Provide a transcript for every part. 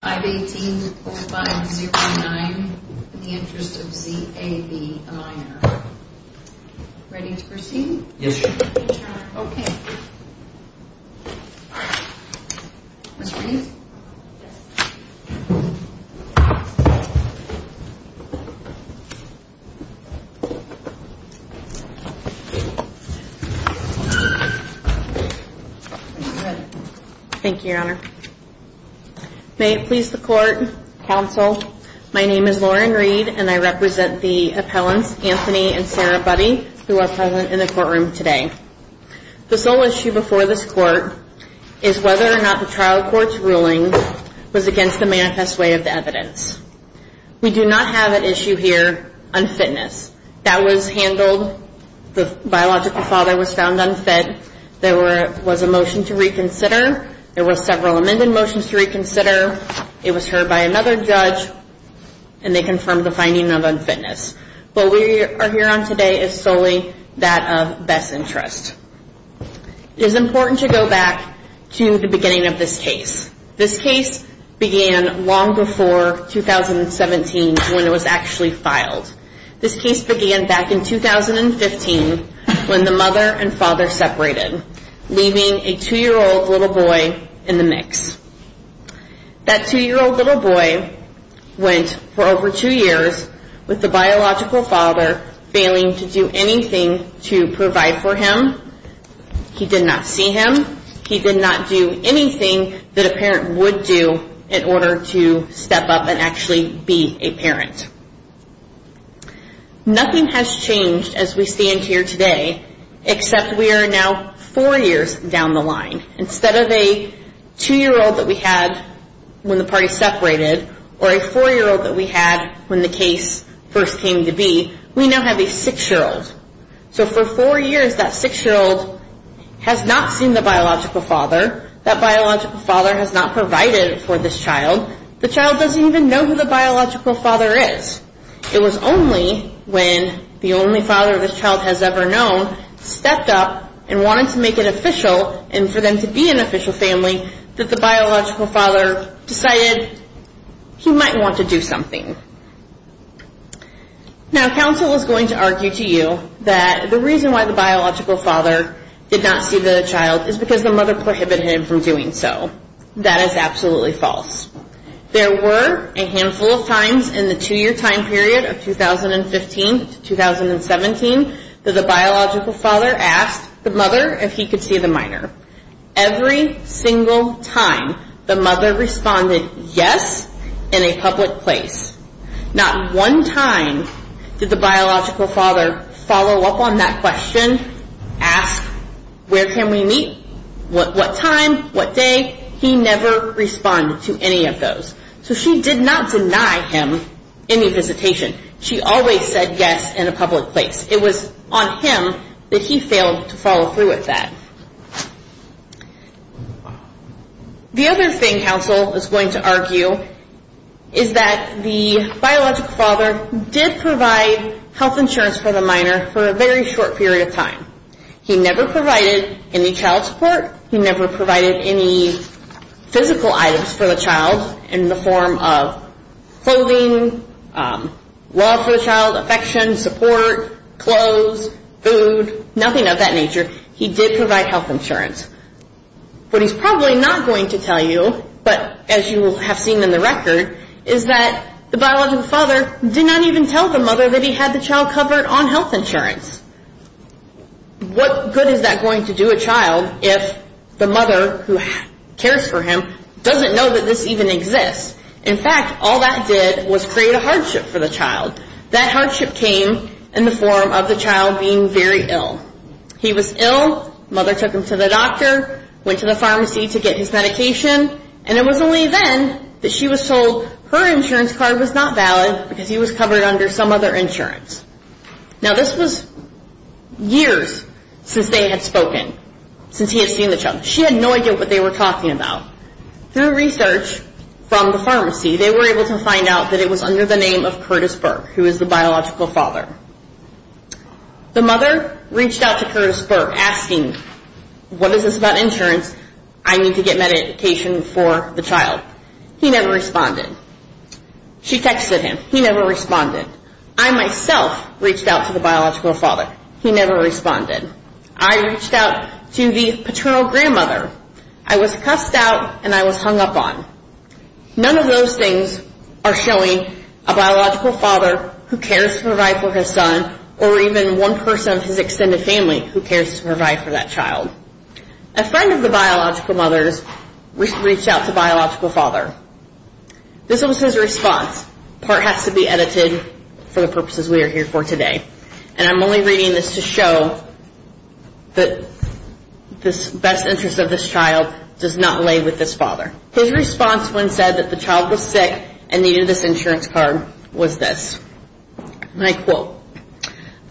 a minor. Ready to proceed? Yes, Your Honor. Okay. Mr. Reed? Thank you, Your Honor. May it please the Court, Counsel. My name is Lauren Reed, and I represent the appellants, Anthony and Sarah Buddy, who are present in the courtroom today. The sole issue before this Court is whether or not the trial court's ruling was against the manifest way of the evidence. We do not have an issue here on fitness. That was handled, the biological father was found unfed. There was a motion to reconsider. There were several amended motions to reconsider. It was heard by another judge, and they confirmed the finding of unfitness. What we are here on today is solely that of best interest. It is important to go back to the beginning of this case. This case began long before 2017, when it was actually filed. This case began back in 2015, when the mother and father separated, leaving a 2-year-old little boy in the mix. That 2-year-old little boy went for over 2 years with the biological father failing to do anything to provide for him. He did not see him. He did not do anything that a parent would do in order to step up and actually be a parent. Nothing has changed as we stand here today, except we are now 4 years down the line. Instead of a 2-year-old that we had when the parties separated, or a 4-year-old that we had when the case first came to be, we now have a 6-year-old. So for 4 years, that 6-year-old has not seen the biological father, has not provided for this child. The child doesn't even know who the biological father is. It was only when the only father this child has ever known stepped up and wanted to make it official, and for them to be an official family, that the biological father decided he might want to do something. Now counsel is going to argue to you that the reason why the biological father did not see the child is because the mother prohibited him from doing so. That is absolutely false. There were a handful of times in the 2-year time period of 2015 to 2017 that the biological father asked the mother if he could see the minor. Every single time, the mother responded yes in a public place. Not one time did the biological father respond to any of those. So she did not deny him any visitation. She always said yes in a public place. It was on him that he failed to follow through with that. The other thing counsel is going to argue is that the biological father did provide health insurance for the minor for a very short period of time. He never provided any child support. He never provided any physical items for the child in the form of clothing, love for the child, affection, support, clothes, food, nothing of that nature. He did provide health insurance. What he is probably not going to tell you, but as you have seen in the record, is that the biological father did not even tell the mother that he had the child if the mother who cares for him doesn't know that this even exists. In fact, all that did was create a hardship for the child. That hardship came in the form of the child being very ill. He was ill, mother took him to the doctor, went to the pharmacy to get his medication, and it was only then that she was told her insurance card was not valid because he was the child. She had no idea what they were talking about. Through research from the pharmacy, they were able to find out that it was under the name of Curtis Burke, who is the biological father. The mother reached out to Curtis Burke asking, what is this about insurance? I need to get medication for the child. He never responded. She texted him. He never responded. I myself reached out to the biological father. He never responded. I reached out to the paternal grandmother. I was cussed out and I was hung up on. None of those things are showing a biological father who cares to provide for his son or even one person of his extended family who cares to provide for that child. A friend of the biological mother's reached out to the biological father. This was his response. Part has to be edited for the purposes we are here for today. And I'm only reading this to show that this best interest of this child does not lay with this father. His response when said that the child was sick and needed this insurance card was this. And I quote,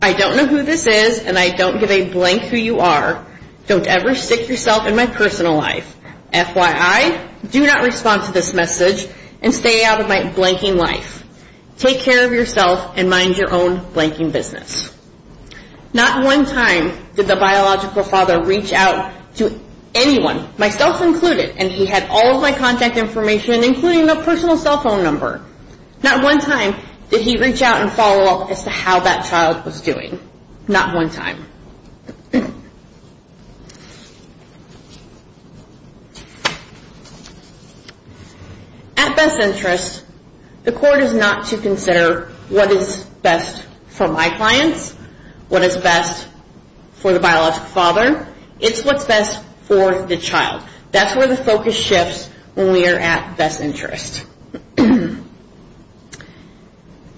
I don't know who this is and I don't give a blank who you are. Don't ever stick yourself in my personal life. FYI, do not respond to this message and stay out of my blanking life. Take care of yourself and mind your own blanking business. Not one time did the biological father reach out to anyone, myself included, and he had all of my contact information including my personal cell phone number. Not one time did he reach out and follow up as to how that child was doing. Not one time. At best interest, the court is not to consider what is best for my clients, what is best for the biological father. It's what's best for the child. That's where the focus shifts when we are at best interest.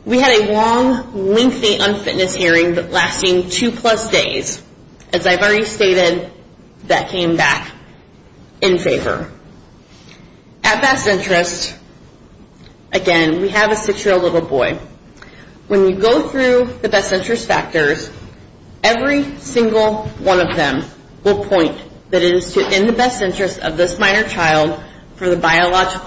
We had a long, lengthy unfitness hearing lasting two plus days. As I've already stated, that came back in favor. At best interest, again, we have a six-year-old little boy. When you go through the best interest factors, every single one of them will point that it is best for the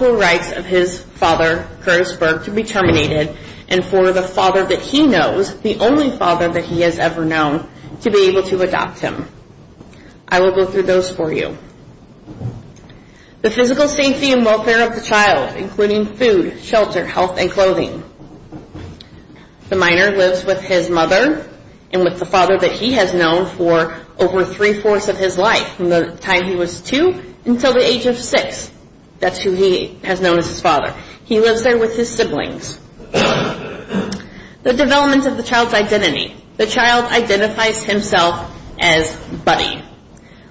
life of his father, Curtis Berg, to be terminated and for the father that he knows, the only father that he has ever known, to be able to adopt him. I will go through those for you. The physical safety and welfare of the child including food, shelter, health and clothing. The minor lives with his mother and with the father that he has known for over three-fourths of his life from the time he was two until the age of six. That's who he has known as his father. He lives there with his siblings. The development of the child's identity. The child identifies himself as Buddy.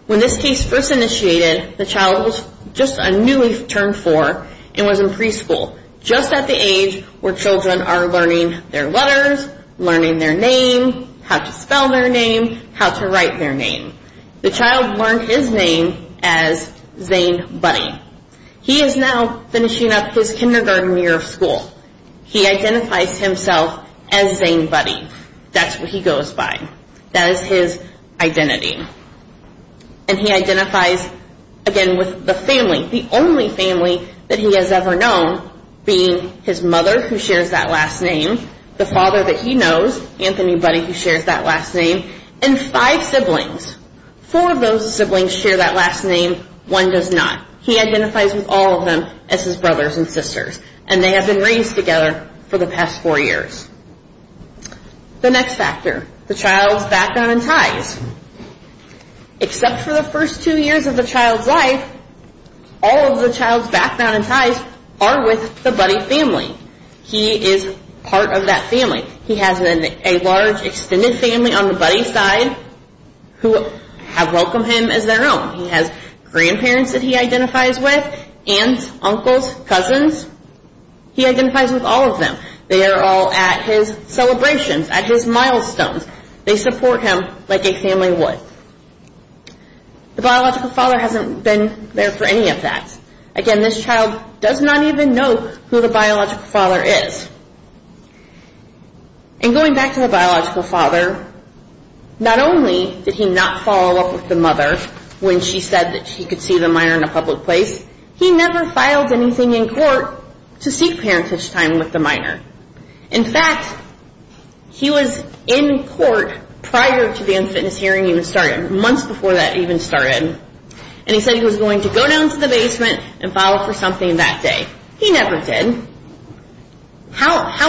When this case first initiated, the child was just a newly turned four and was in preschool, just at the age where children are learning their letters, learning their name, how to spell their name, how to write their name. The child learned his name as Zane Buddy. He is now finishing up his kindergarten year of school. He identifies himself as Zane Buddy. That's what he goes by. That is his identity. And he identifies, again, with the family, the only family that he has ever known being his mother, who shares that last name, the father that he knows, Anthony Buddy, who are his siblings. Four of those siblings share that last name. One does not. He identifies with all of them as his brothers and sisters. And they have been raised together for the past four years. The next factor, the child's background and ties. Except for the first two years of the child's life, all of the child's background and ties are with the Buddy family. He is part of that family. He has a large extended family on the Buddy side. Who have welcomed him as their own. He has grandparents that he identifies with, aunts, uncles, cousins. He identifies with all of them. They are all at his celebrations, at his milestones. They support him like a family would. The biological father hasn't been there for any of that. Again, this child does not even know who the biological father is. And not only did he not follow up with the mother when she said he could see the minor in a public place, he never filed anything in court to seek parentage time with the minor. In fact, he was in court prior to the unfitness hearing even starting. Months before that even started. And he said he was going to go down to the basement and file for something that day. He never did. How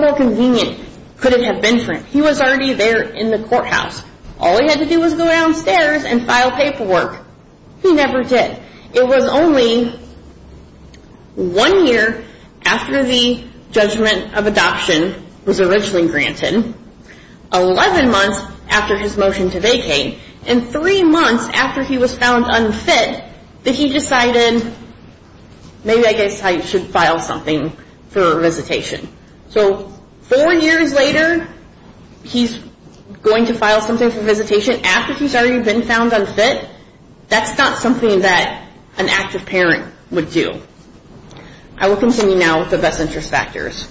more convenient could it have been for him? He was already there in the courthouse. All he had to do was go downstairs and file paperwork. He never did. It was only one year after the judgment of adoption was originally granted, 11 months after his motion to vacate, and 3 months after he was found unfit that he decided maybe I should file something for visitation. So 4 years later, he's going to file something for visitation after he's already been found unfit? That's not something that an active parent would do. I will continue now with the best interest factors.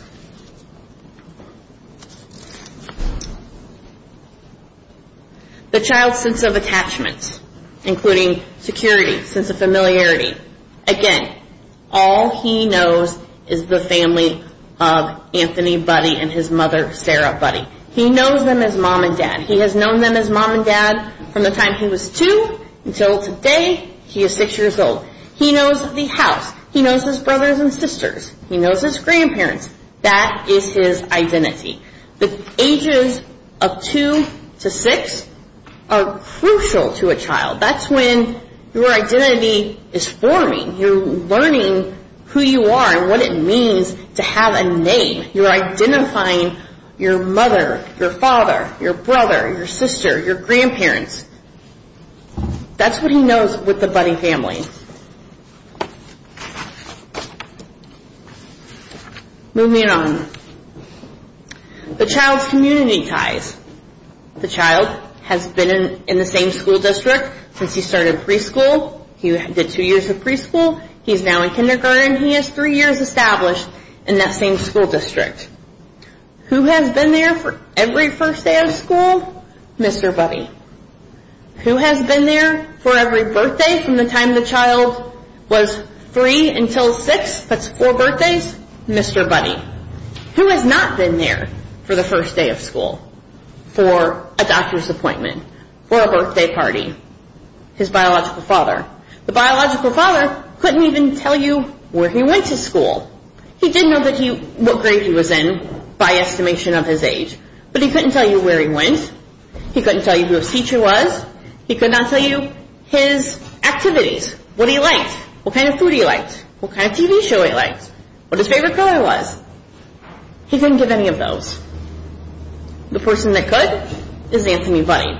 The child's sense of attachments, including security, sense of familiarity. Again, all he knows is the family of Anthony Buddy and his mother Sarah Buddy. He knows them as mom and dad. He has known them as mom and dad from the time he was 2 until today he is 6 years old. He knows the house. He knows his brothers and sisters. He knows his grandparents. That is his identity. The ages of 2 to 6 are crucial to a child. That's when your identity is forming. You're learning who you are and what it means to have a name. You're identifying your mother, your father, your brother, your sister, your grandparents. That's what he knows with the child's community ties. The child has been in the same school district since he started preschool. He did 2 years of preschool. He's now in kindergarten. He has 3 years established in that same school district. Who has been there for every first day of school? Mr. Buddy. Who has been there for every birthday from the time the child was 3 until 6? That's 4 for the first day of school. For a doctor's appointment. For a birthday party. His biological father. The biological father couldn't even tell you where he went to school. He did know what grade he was in by estimation of his age. But he couldn't tell you where he went. He couldn't tell you who his teacher was. He could not tell you his activities. What he liked. What kind of food he liked. What kind of TV show he liked. What his favorite color was. He didn't give any of those. The person that could is Anthony Buddy.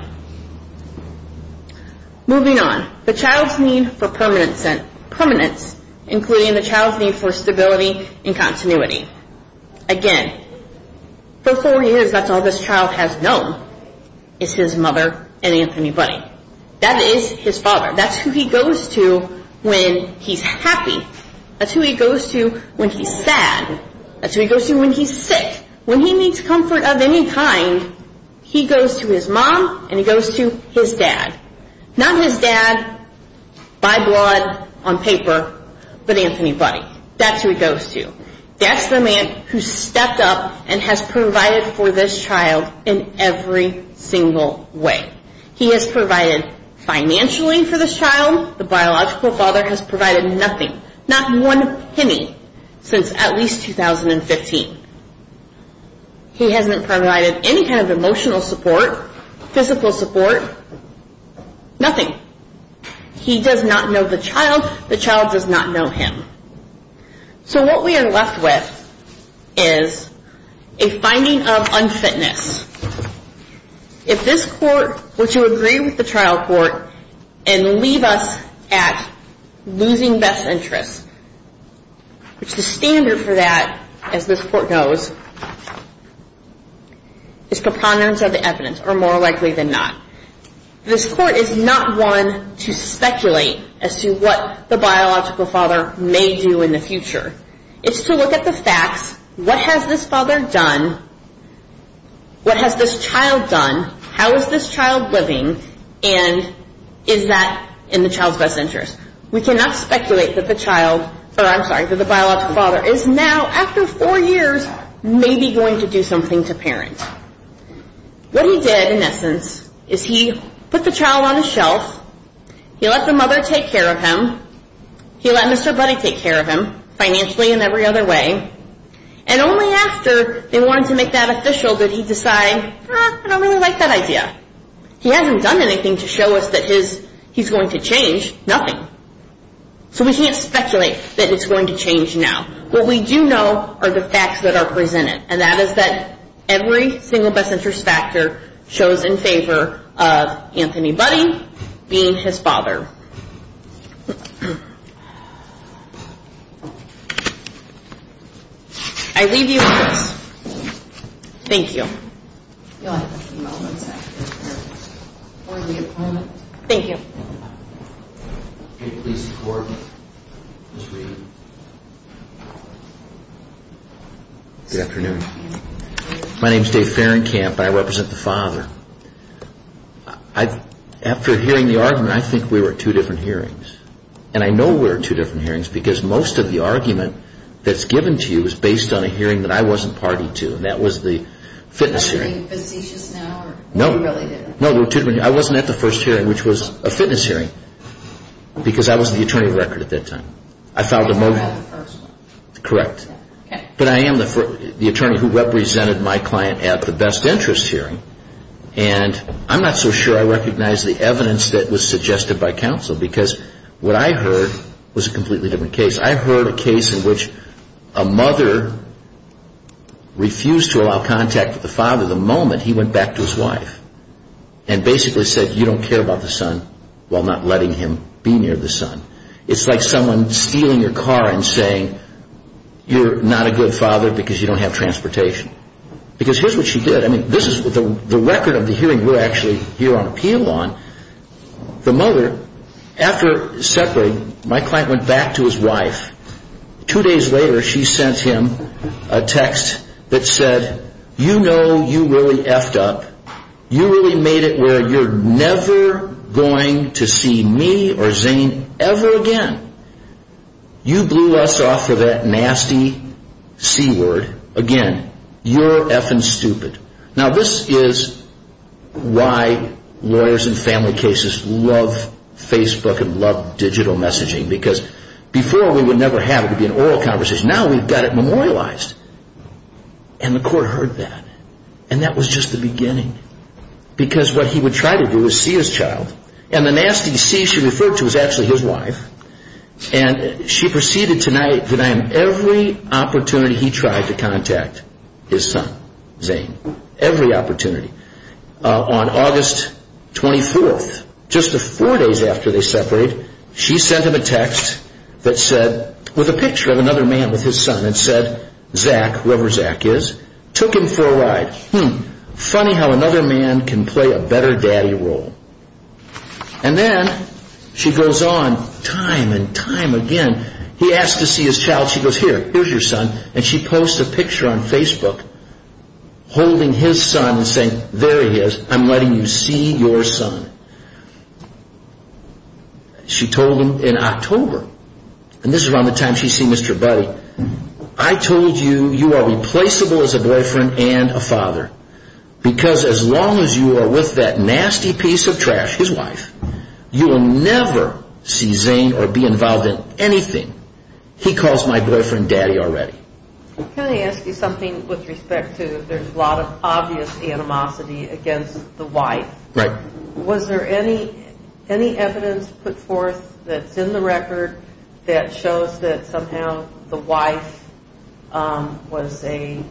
Moving on. The child's need for permanence, including the child's need for stability and continuity. Again, for 4 years that's all this child has known is his mother and Anthony Buddy. That is his father. That's who he goes to when he's happy. That's who he goes to when he's sad. That's who he goes to when he's sick. When he needs comfort of any kind, he goes to his mom and he goes to his dad. Not his dad by blood on paper, but Anthony Buddy. That's who he goes to. That's the man who stepped up and has provided for this child in every single way. He has provided financially for this child. The biological father has provided nothing. Not one penny since at least 2015. He hasn't provided any kind of emotional support, physical support. Nothing. He does not know the child. The child does not know him. So what we are left with is a finding of unfitness. If this court were to agree with the trial court and leave us at losing best interest, which the standard for that as this court knows, is preponderance of the evidence or more likely than not. This court is not one to speculate as to what the biological father may do in the future. It's to look at the facts. What has this father done? What has this child done? How is this child living and is that in the child's best interest? We cannot speculate that the biological father is now after four years maybe going to do something to parent. What he did in essence is he put the child on the shelf. He let the mother take care of him. He let Mr. Buddy take care of him financially and every other way. And only after they wanted to make that official did he decide, I don't really like that idea. He hasn't done anything to show us that he's going to change. Nothing. So we can't speculate that it's going to change now. What we do know are the facts that are presented and that is that every single best father of Anthony Buddy being his father. I leave you with this. Thank you. Thank you. Good afternoon. My name is Dave Ferencamp and I represent the father. After hearing the argument, I think we were at two different hearings. And I know we were at two different hearings because most of the argument that's given to you is based on a hearing that I wasn't party to and that was the fitness hearing. Are you facetious now or you really didn't? No. I wasn't at the first hearing which was a fitness hearing because I wasn't the attorney of record at that time. I filed a motive. You were at the first one. Correct. But I am the attorney who represented my client at the best interest hearing. And I'm not so sure I recognize the evidence that was suggested by counsel because what I heard was a completely different case. I heard a case in which a mother refused to allow contact with the father the moment he went back to his wife and basically said you don't care about the son while not letting him be near the son. It's like someone stealing your car and saying you're not a good father because you don't have transportation. Because here's what she did. This is the record of the hearing we're actually here on appeal on. The mother after separating my client went back to his wife. Two days later she sent him a text that said you know you really effed up. You really made it where you're never going to see me or Zane ever again. You blew us off for that nasty C word again. You're effing stupid. Now this is why lawyers in family cases love Facebook and love digital messaging because before we would never have it be an oral conversation. Now we've got it memorialized. And the court heard that. And that was just the beginning. Because what he would try to do is see his child and the nasty C she referred to was actually his wife. And she proceeded tonight every opportunity he tried to contact his son Zane. Every opportunity. On August 24th just four days after they separated she sent him a text that said with a picture of another man with his son and said Zach, whoever Zach is, took him for a ride. Funny how another man can play a better daddy role. And then she goes on time and time again. He asked to see his child. She goes here, here's your son. And she posts a picture on Facebook holding his son and saying there he is. I'm letting you see your son. She told him in October and this is around the time she's seen Mr. Buddy. I told you you are replaceable as a boyfriend and a father. Because as long as you are with that nasty piece of trash, his son, he calls my boyfriend daddy already. Can I ask you something with respect to there's a lot of obvious animosity against the wife. Right. Was there any evidence put forth that's in the record that shows that somehow the wife was a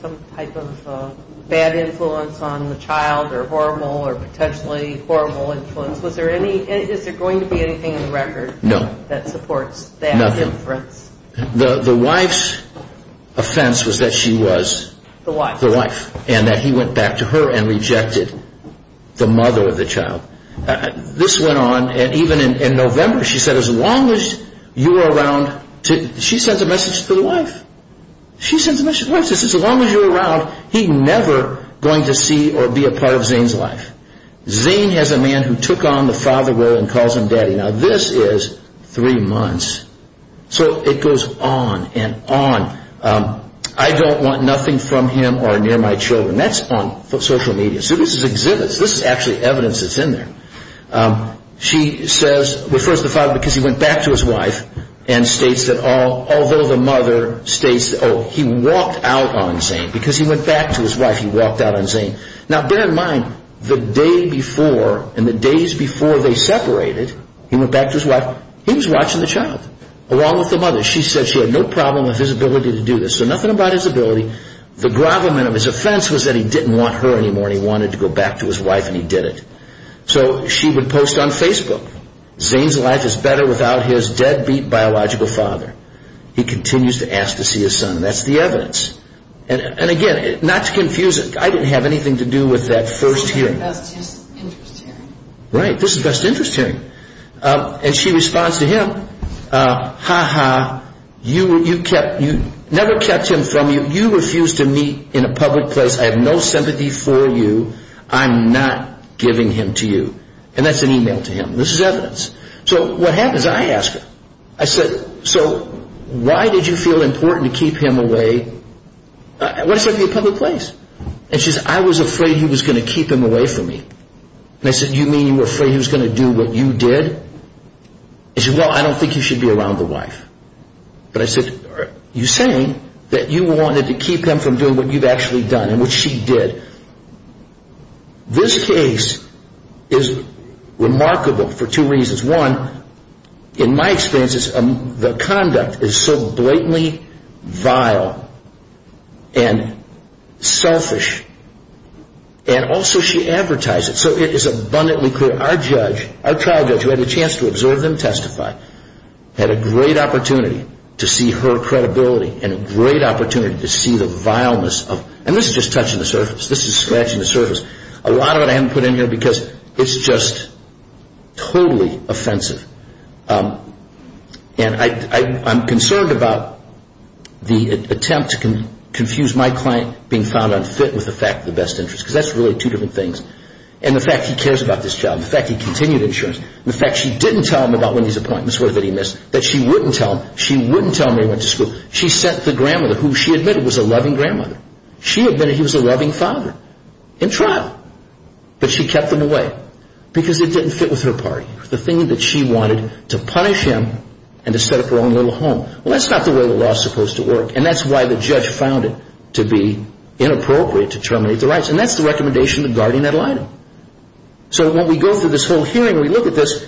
some type of bad influence on the child or horrible or potentially horrible influence? Was there any is there going to be anything in the record that supports that? The wife's offense was that she was the wife and that he went back to her and rejected the mother of the child. This went on even in November. She said as long as you are around, she sends a message to the wife. She says as long as you are around, he's never going to see or be a part of Zane's life. Zane has a man who took on the father role and calls him daddy. Now this is three months. So it goes on and on. I don't want nothing from him or near my children. That's on social media. So this is exhibits. This is actually evidence that's in there. She says, refers the father because he went back to his wife and states that although the mother states oh he walked out on Zane because he went back to his wife, he walked out on Zane. Now bear in mind, the day before and the days before they separated, he went back to his wife. He was watching the child along with the mother. She said she had no problem with his ability to do this. So nothing about his ability. The grovelment of his offense was that he didn't want her anymore and he wanted to go back to his wife and he did it. So she would post on Facebook, Zane's life is better without his deadbeat biological father. He continues to ask to see his son. That's the evidence. And again, not to confuse it, I didn't have anything to do with that first hearing. This is best interest hearing. Right, this is best interest hearing. And she responds to him, ha ha, you never kept him from you. You refused to meet in a public place. I have no sympathy for you. I'm not giving him to you. And that's an email to him. This is evidence. So what happens? I ask her. I said, so why did you feel important to keep him away? What did I say, from your public place? And she said, I was afraid he was going to keep him away from me. And I said, you mean you were afraid he was going to do what you did? And she said, well, I don't think he should be around the wife. But I said, are you saying that you wanted to keep him from doing what you've actually done and what she did? This case is remarkable for two reasons. One, in my opinion, she is extremely vile and selfish. And also she advertised it. So it is abundantly clear. Our judge, our trial judge, who had a chance to observe and testify, had a great opportunity to see her credibility and a great opportunity to see the vileness of, and this is just touching the surface. This is scratching the surface. A lot of it I haven't put in here because it's just totally offensive. And I'm concerned about the attempt to confuse my client being found unfit with the fact of the best interest. Because that's really two different things. And the fact he cares about this child. The fact he continued insurance. The fact she didn't tell him about Wendy's appointments, what he missed. That she wouldn't tell him. She wouldn't tell him that he went to school. She sent the grandmother, who she admitted was a loving grandmother. She admitted he was a loving father. In trial. But she kept them away. Because it didn't fit with her party. The thing that she wanted, to punish him and to set up her own little home. Well, that's not the way the law's supposed to work. And that's why the judge found it to be inappropriate to terminate the rights. And that's the recommendation of guardian ad litem. So when we go through this whole hearing, we look at this,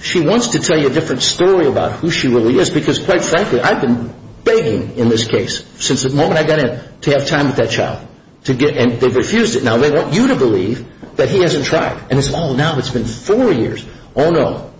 she wants to tell you a different story about who she really is. Because quite frankly, I've been begging in this case, since the moment I got in, to have time with that child. And they've you to believe that he hasn't tried. And it's all now, it's been four years. Oh no.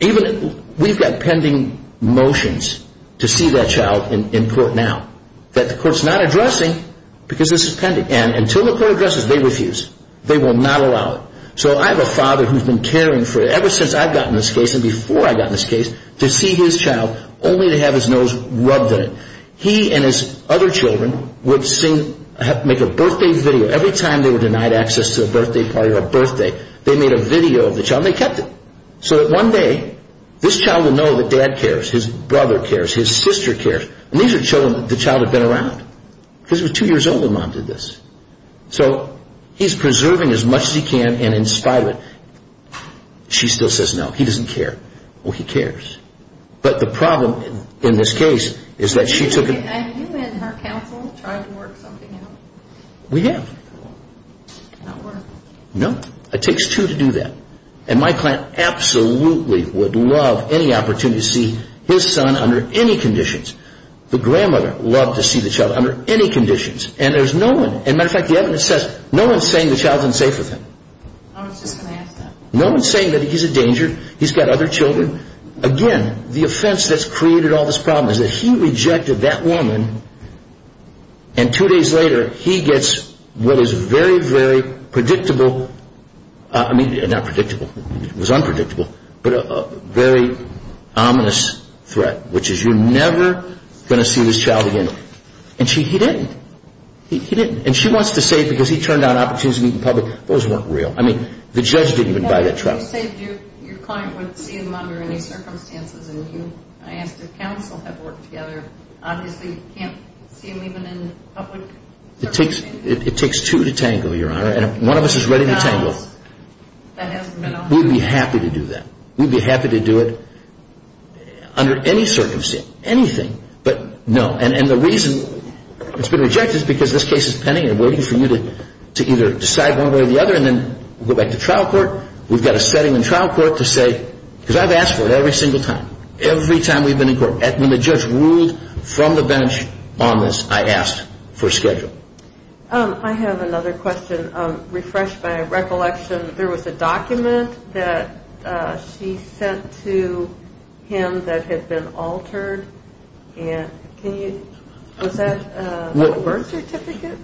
Even, we've got pending motions to see that child in court now. That the court's not addressing because this is pending. And until the court addresses, they refuse. They will not allow it. So I have a father who's been caring for, ever since I've gotten this case and before I got in this case, to see his child, only to have his nose rubbed in it. He and his other children would sing, make a birthday video. Every time they were denied access to a birthday party or a birthday, they made a video of the child and they kept it. So that one day, this child would know that dad cares, his brother cares, his sister cares. And these are children that the child had been around. Because he was two years old when mom did this. So he's preserving as much as he can and in spite of it, she still says no, he doesn't care. Well, he cares. But the problem in this case is that she took And you and her counsel tried to work something out? We have. Not worth it. No. It takes two to do that. And my client absolutely would love any opportunity to see his son under any conditions. The grandmother loved to see the child under any conditions. And there's no one, and matter of fact, the evidence says, no one's saying the child's unsafe with him. I was just going to ask that. No one's saying that he's a danger. He's got other children. Again, the offense that's And two days later, he gets what is very, very predictable. I mean, not predictable. It was unpredictable. But a very ominous threat, which is you're never going to see this child again. And he didn't. He didn't. And she wants to say because he turned down opportunities to meet in public. Those weren't real. I mean, the judge didn't even buy that trial. You said your client would see him under any circumstances. And I asked if counsel had worked together. Obviously, you can't see him even in public circumstances. It takes two to tangle, Your Honor. And if one of us is ready to tangle, we'd be happy to do that. We'd be happy to do it under any circumstance, anything. But no. And the reason it's been rejected is because this case is pending and waiting for you to either decide one way or the other and then go back to trial court. We've got a setting in trial court to say, because I've asked for it every single time, every time we've been in court. When the judge ruled from the bench on this, I asked for a schedule. I have another question. Refresh my recollection. There was a document that she sent to him that had been altered. Was that a birth certificate?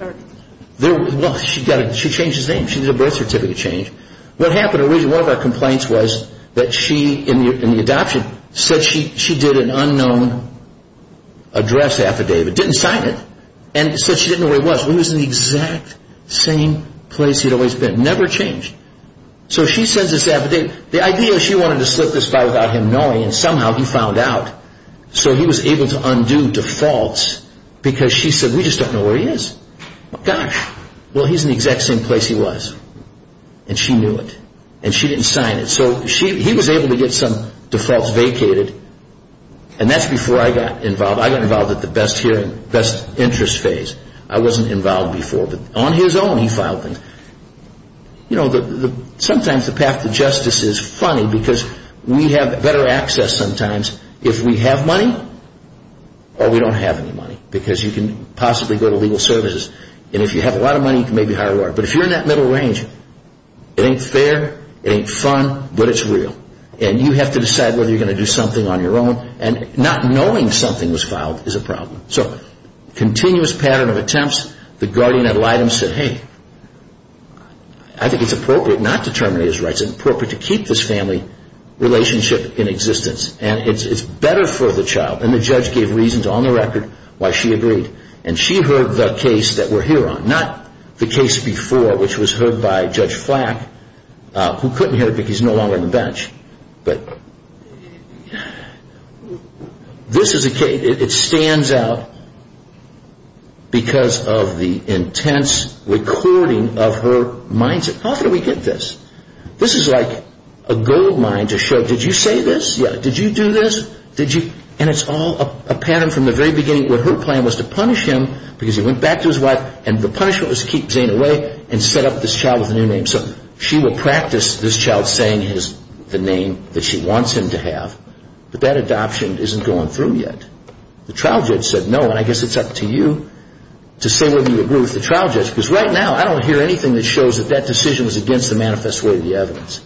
She changed his name. She did a birth certificate change. What happened, one of our complaints was that she, in the adoption, said she did an unknown address affidavit. Didn't sign it. And said she didn't know where he was. He was in the exact same place he'd always been. Never changed. So she sends this affidavit. The idea is she wanted to slip this by without him knowing. And somehow he found out. So he was able to undo defaults because she said we just don't know where he is. Gosh. Well, he's in the exact same place he was. And she knew it. And she didn't sign it. So he was able to get some defaults vacated. And that's before I got involved. I got involved at the best interest phase. I wasn't involved before. But on his own, he filed things. Sometimes the path to justice is funny because we have better access sometimes if we have money or we don't have any money. Because you can possibly go to legal services. And if you have a lot of money, you can maybe hire a lawyer. But if you're in that middle range, it ain't fair. It ain't fun. But it's real. And you have to decide whether you're going to do something on your own. And not knowing something was I think it's appropriate not to terminate his rights. It's appropriate to keep this family relationship in existence. And it's better for the child. And the judge gave reasons on the record why she agreed. And she heard the case that we're here on. Not the case before, which was heard by Judge Flack, who couldn't hear it because he's no longer on the bench. But this is a case, it stands out because of the intense recording of her mindset. How did we get this? This is like a gold mine to show, did you say this? Did you do this? And it's all a pattern from the very beginning where her plan was to punish him because he went back to his wife. And the punishment was to keep Zane away and set up this child with a new name. So she would practice this child's saying the name that she wants him to have. But that adoption isn't going through yet. The trial judge said no, and I guess it's up to you to say whether you agree with the trial judge. Because right now I don't hear anything that shows that that decision was against the manifest way of the evidence.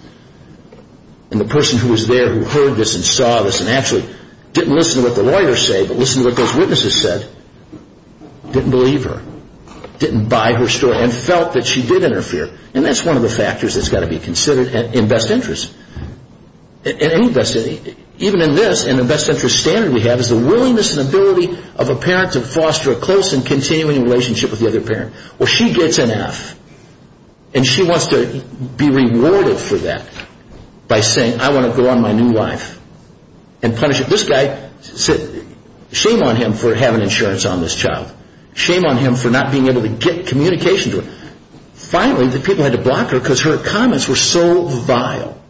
And the person who was there who heard this and saw this and actually didn't listen to what the lawyers said, but listened to what those witnesses said, didn't believe her. Didn't buy her story and felt that she did interfere. And that's one of the factors that's got to be considered in best interest. Even in this, in the best interest standard we have, is the willingness and ability of a parent to foster a close and continuing relationship with the other parent. Well she gets an F. And she wants to be rewarded for that by saying I want to go on my new life. And punish it. This guy, shame on him for having insurance on this child. Shame on him for not being able to get communication to her. Finally the people had to block her because her comments were so vile.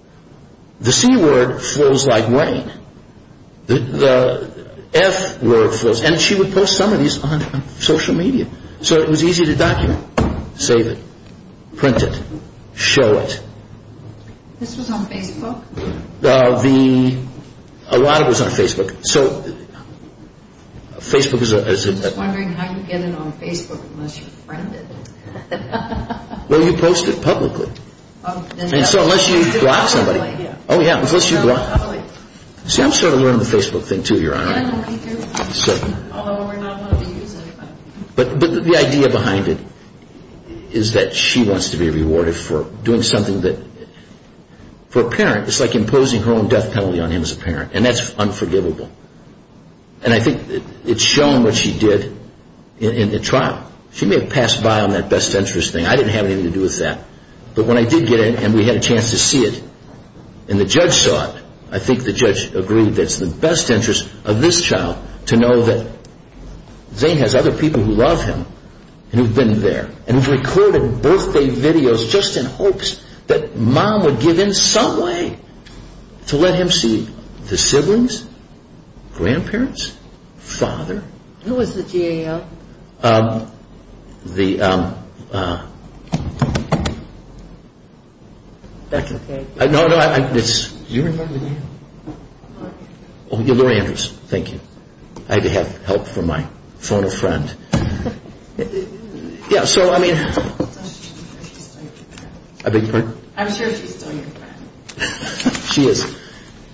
The C word flows like rain. The F word flows. And she would post some of these on social media. So it was easy to document. Save it. Print it. Show it. This was on Facebook? A lot of it was on Facebook. I'm just wondering how you get it on Facebook unless you friend it. Well you post it publicly. So unless you block somebody. See I'm sort of learning the Facebook thing too, Your Honor. Although we're not allowed to use it. But the idea behind it is that she wants to be rewarded for doing something that, for a parent, it's like imposing her own death penalty on him as a parent. And that's unforgivable. And I think it's shown what she did in the trial. She may have passed by on that best interest thing. I didn't have anything to do with that. But when I did get it and we had a chance to see it and the judge saw it, I think the judge agreed that it's the best interest of this child to know that Zane has other people who love him and who've been there and who've recorded birthday videos just in hopes that mom would give in some way to let him see the siblings, grandparents, father. Who was the GAL? That's okay. No, no, you remember. Oh, Laurie Andrews. Thank you. I had to have help from my phone-a-friend. Yeah, so I mean. I beg your pardon? I'm sure she's still your friend. She is.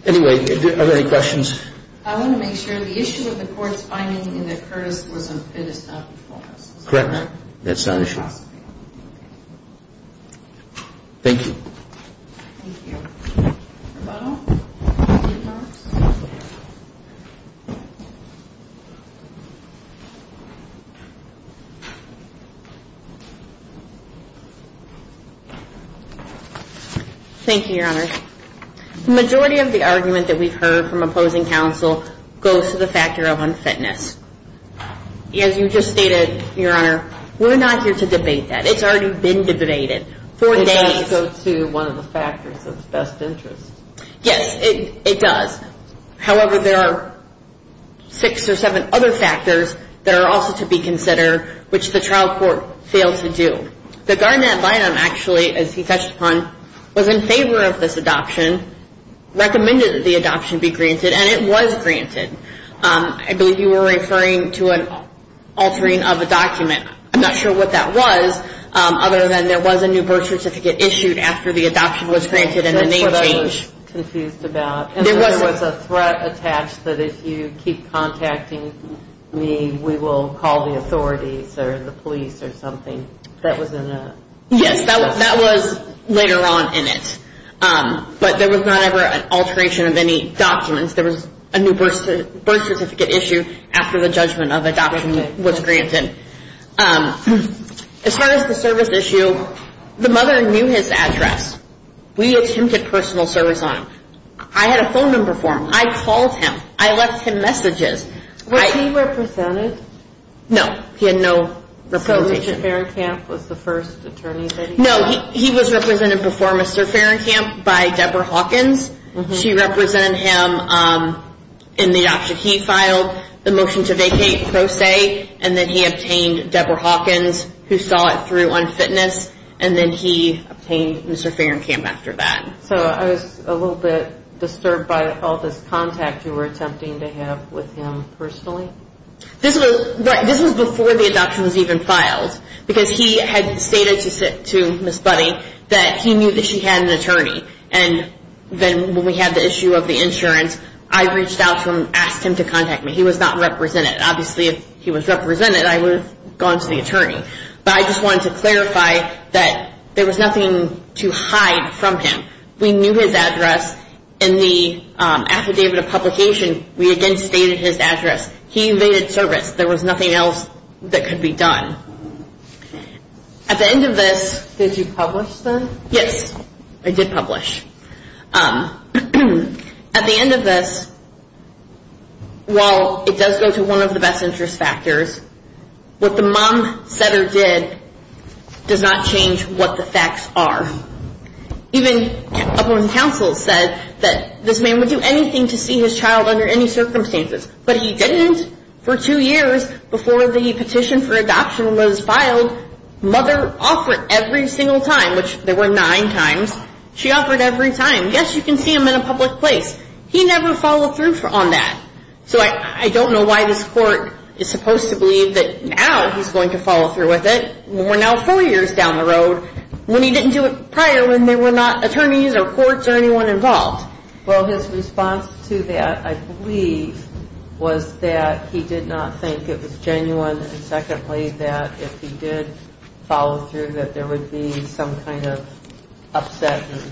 Anyway, are there any questions? I want to make sure the issue of the court's finding that Curtis was unfit is not before us. Correct. That's not an issue. Thank you. Thank you, Your Honor. The majority of the argument that we've heard from opposing counsel goes to the factor of unfitness. As you just stated, Your Honor, we're not here to debate that. It's already been debated for days. It does go to one of the factors of best interest. Yes, it does. However, there are six or seven other factors that are also to be considered, which the trial court failed to do. The guardant ad litem, actually, as he touched upon, was in favor of this adoption, recommended that the adoption be granted, and it was granted. I believe you were referring to an altering of a document. I'm not sure what that was, other than there was a new birth certificate issued after the adoption was granted and the name changed. That's what I was confused about. There was a threat attached that if you keep contacting me, we will call the authorities or the police or something. That was in a. But there was not ever an alteration of any documents. There was a new birth certificate issued after the judgment of adoption was granted. As far as the service issue, the mother knew his address. We attempted personal service on him. I had a phone number for him. I called him. I left him messages. Was he represented? No, he had no representation. No, he was represented before Mr. Ferencamp by Debra Hawkins. She represented him in the adoption he filed, the motion to vacate, pro se, and then he obtained Debra Hawkins, who saw it through on fitness, and then he obtained Mr. Ferencamp after that. So I was a little bit disturbed by all this contact you were attempting to have with him personally. This was before the adoption was even filed. Because he had stated to Miss Buddy that he knew that she had an attorney. And then when we had the issue of the insurance, I reached out to him and asked him to contact me. He was not represented. Obviously, if he was represented, I would have gone to the attorney. But I just wanted to clarify that there was nothing to hide from him. We knew his address in the affidavit of publication. We again stated his address. He invaded service. There was nothing else that could be done. At the end of this... Did you publish then? Yes, I did publish. At the end of this, while it does go to one of the best interest factors, what the mom said or did does not change what the facts are. Even up on counsel said that this man would do anything to see his child under any circumstances. But he didn't for two years before the petition for adoption was filed. Mother offered every single time, which there were nine times. She offered every time. Yes, you can see him in a public place. He never followed through on that. So I don't know why this court is supposed to believe that now he's going to follow through with it. We're now four years down the road when he didn't do it prior when there were not attorneys or courts or anyone involved. Well, his response to that, I believe, was that he did not think it was genuine. And secondly, that if he did follow through, that there would be some kind of upset and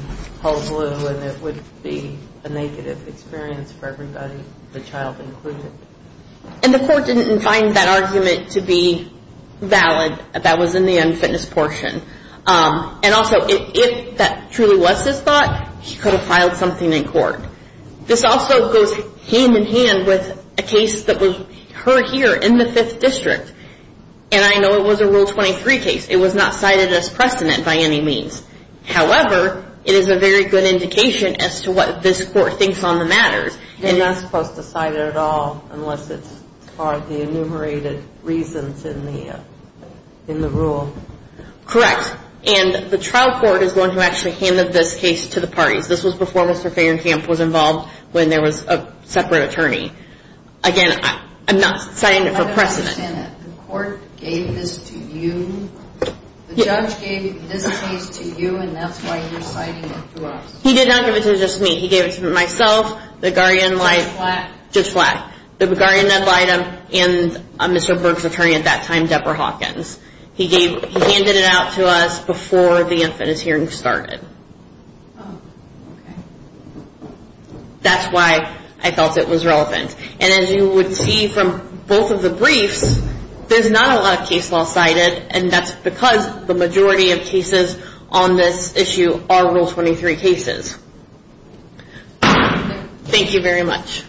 hullabaloo and it would be a negative experience for everybody, the child included. And the court didn't find that argument to be valid. That was in the unfitness portion. And also if that truly was his thought, he could have filed something in court. This also goes hand in hand with a case that was heard here in the Fifth District. And I know it was a Rule 23 case. It was not cited as precedent by any means. However, it is a very good indication as to what this court thinks on the matters. You're not supposed to cite it at all unless it's part of the enumerated reasons in the rule. Correct. And the trial court is the one who actually handed this case to the parties. This was before Mr. Fagernkamp was involved when there was a separate attorney. Again, I'm not citing it for precedent. I don't understand it. The court gave this to you? The judge gave this case to you and that's why you're citing it to us? He did not give it to just me. He gave it to myself, the guardian... Just flat? Just flat. The guardian that lied to him and Mr. Brooks' attorney at that time, Deborah Hawkins. He handed it out to us before the infant is hearing started. That's why I felt it was relevant. And as you would see from both of the briefs, there's not a lot of case law cited and that's because the majority of cases on this issue are Rule 23 cases. Thank you very much.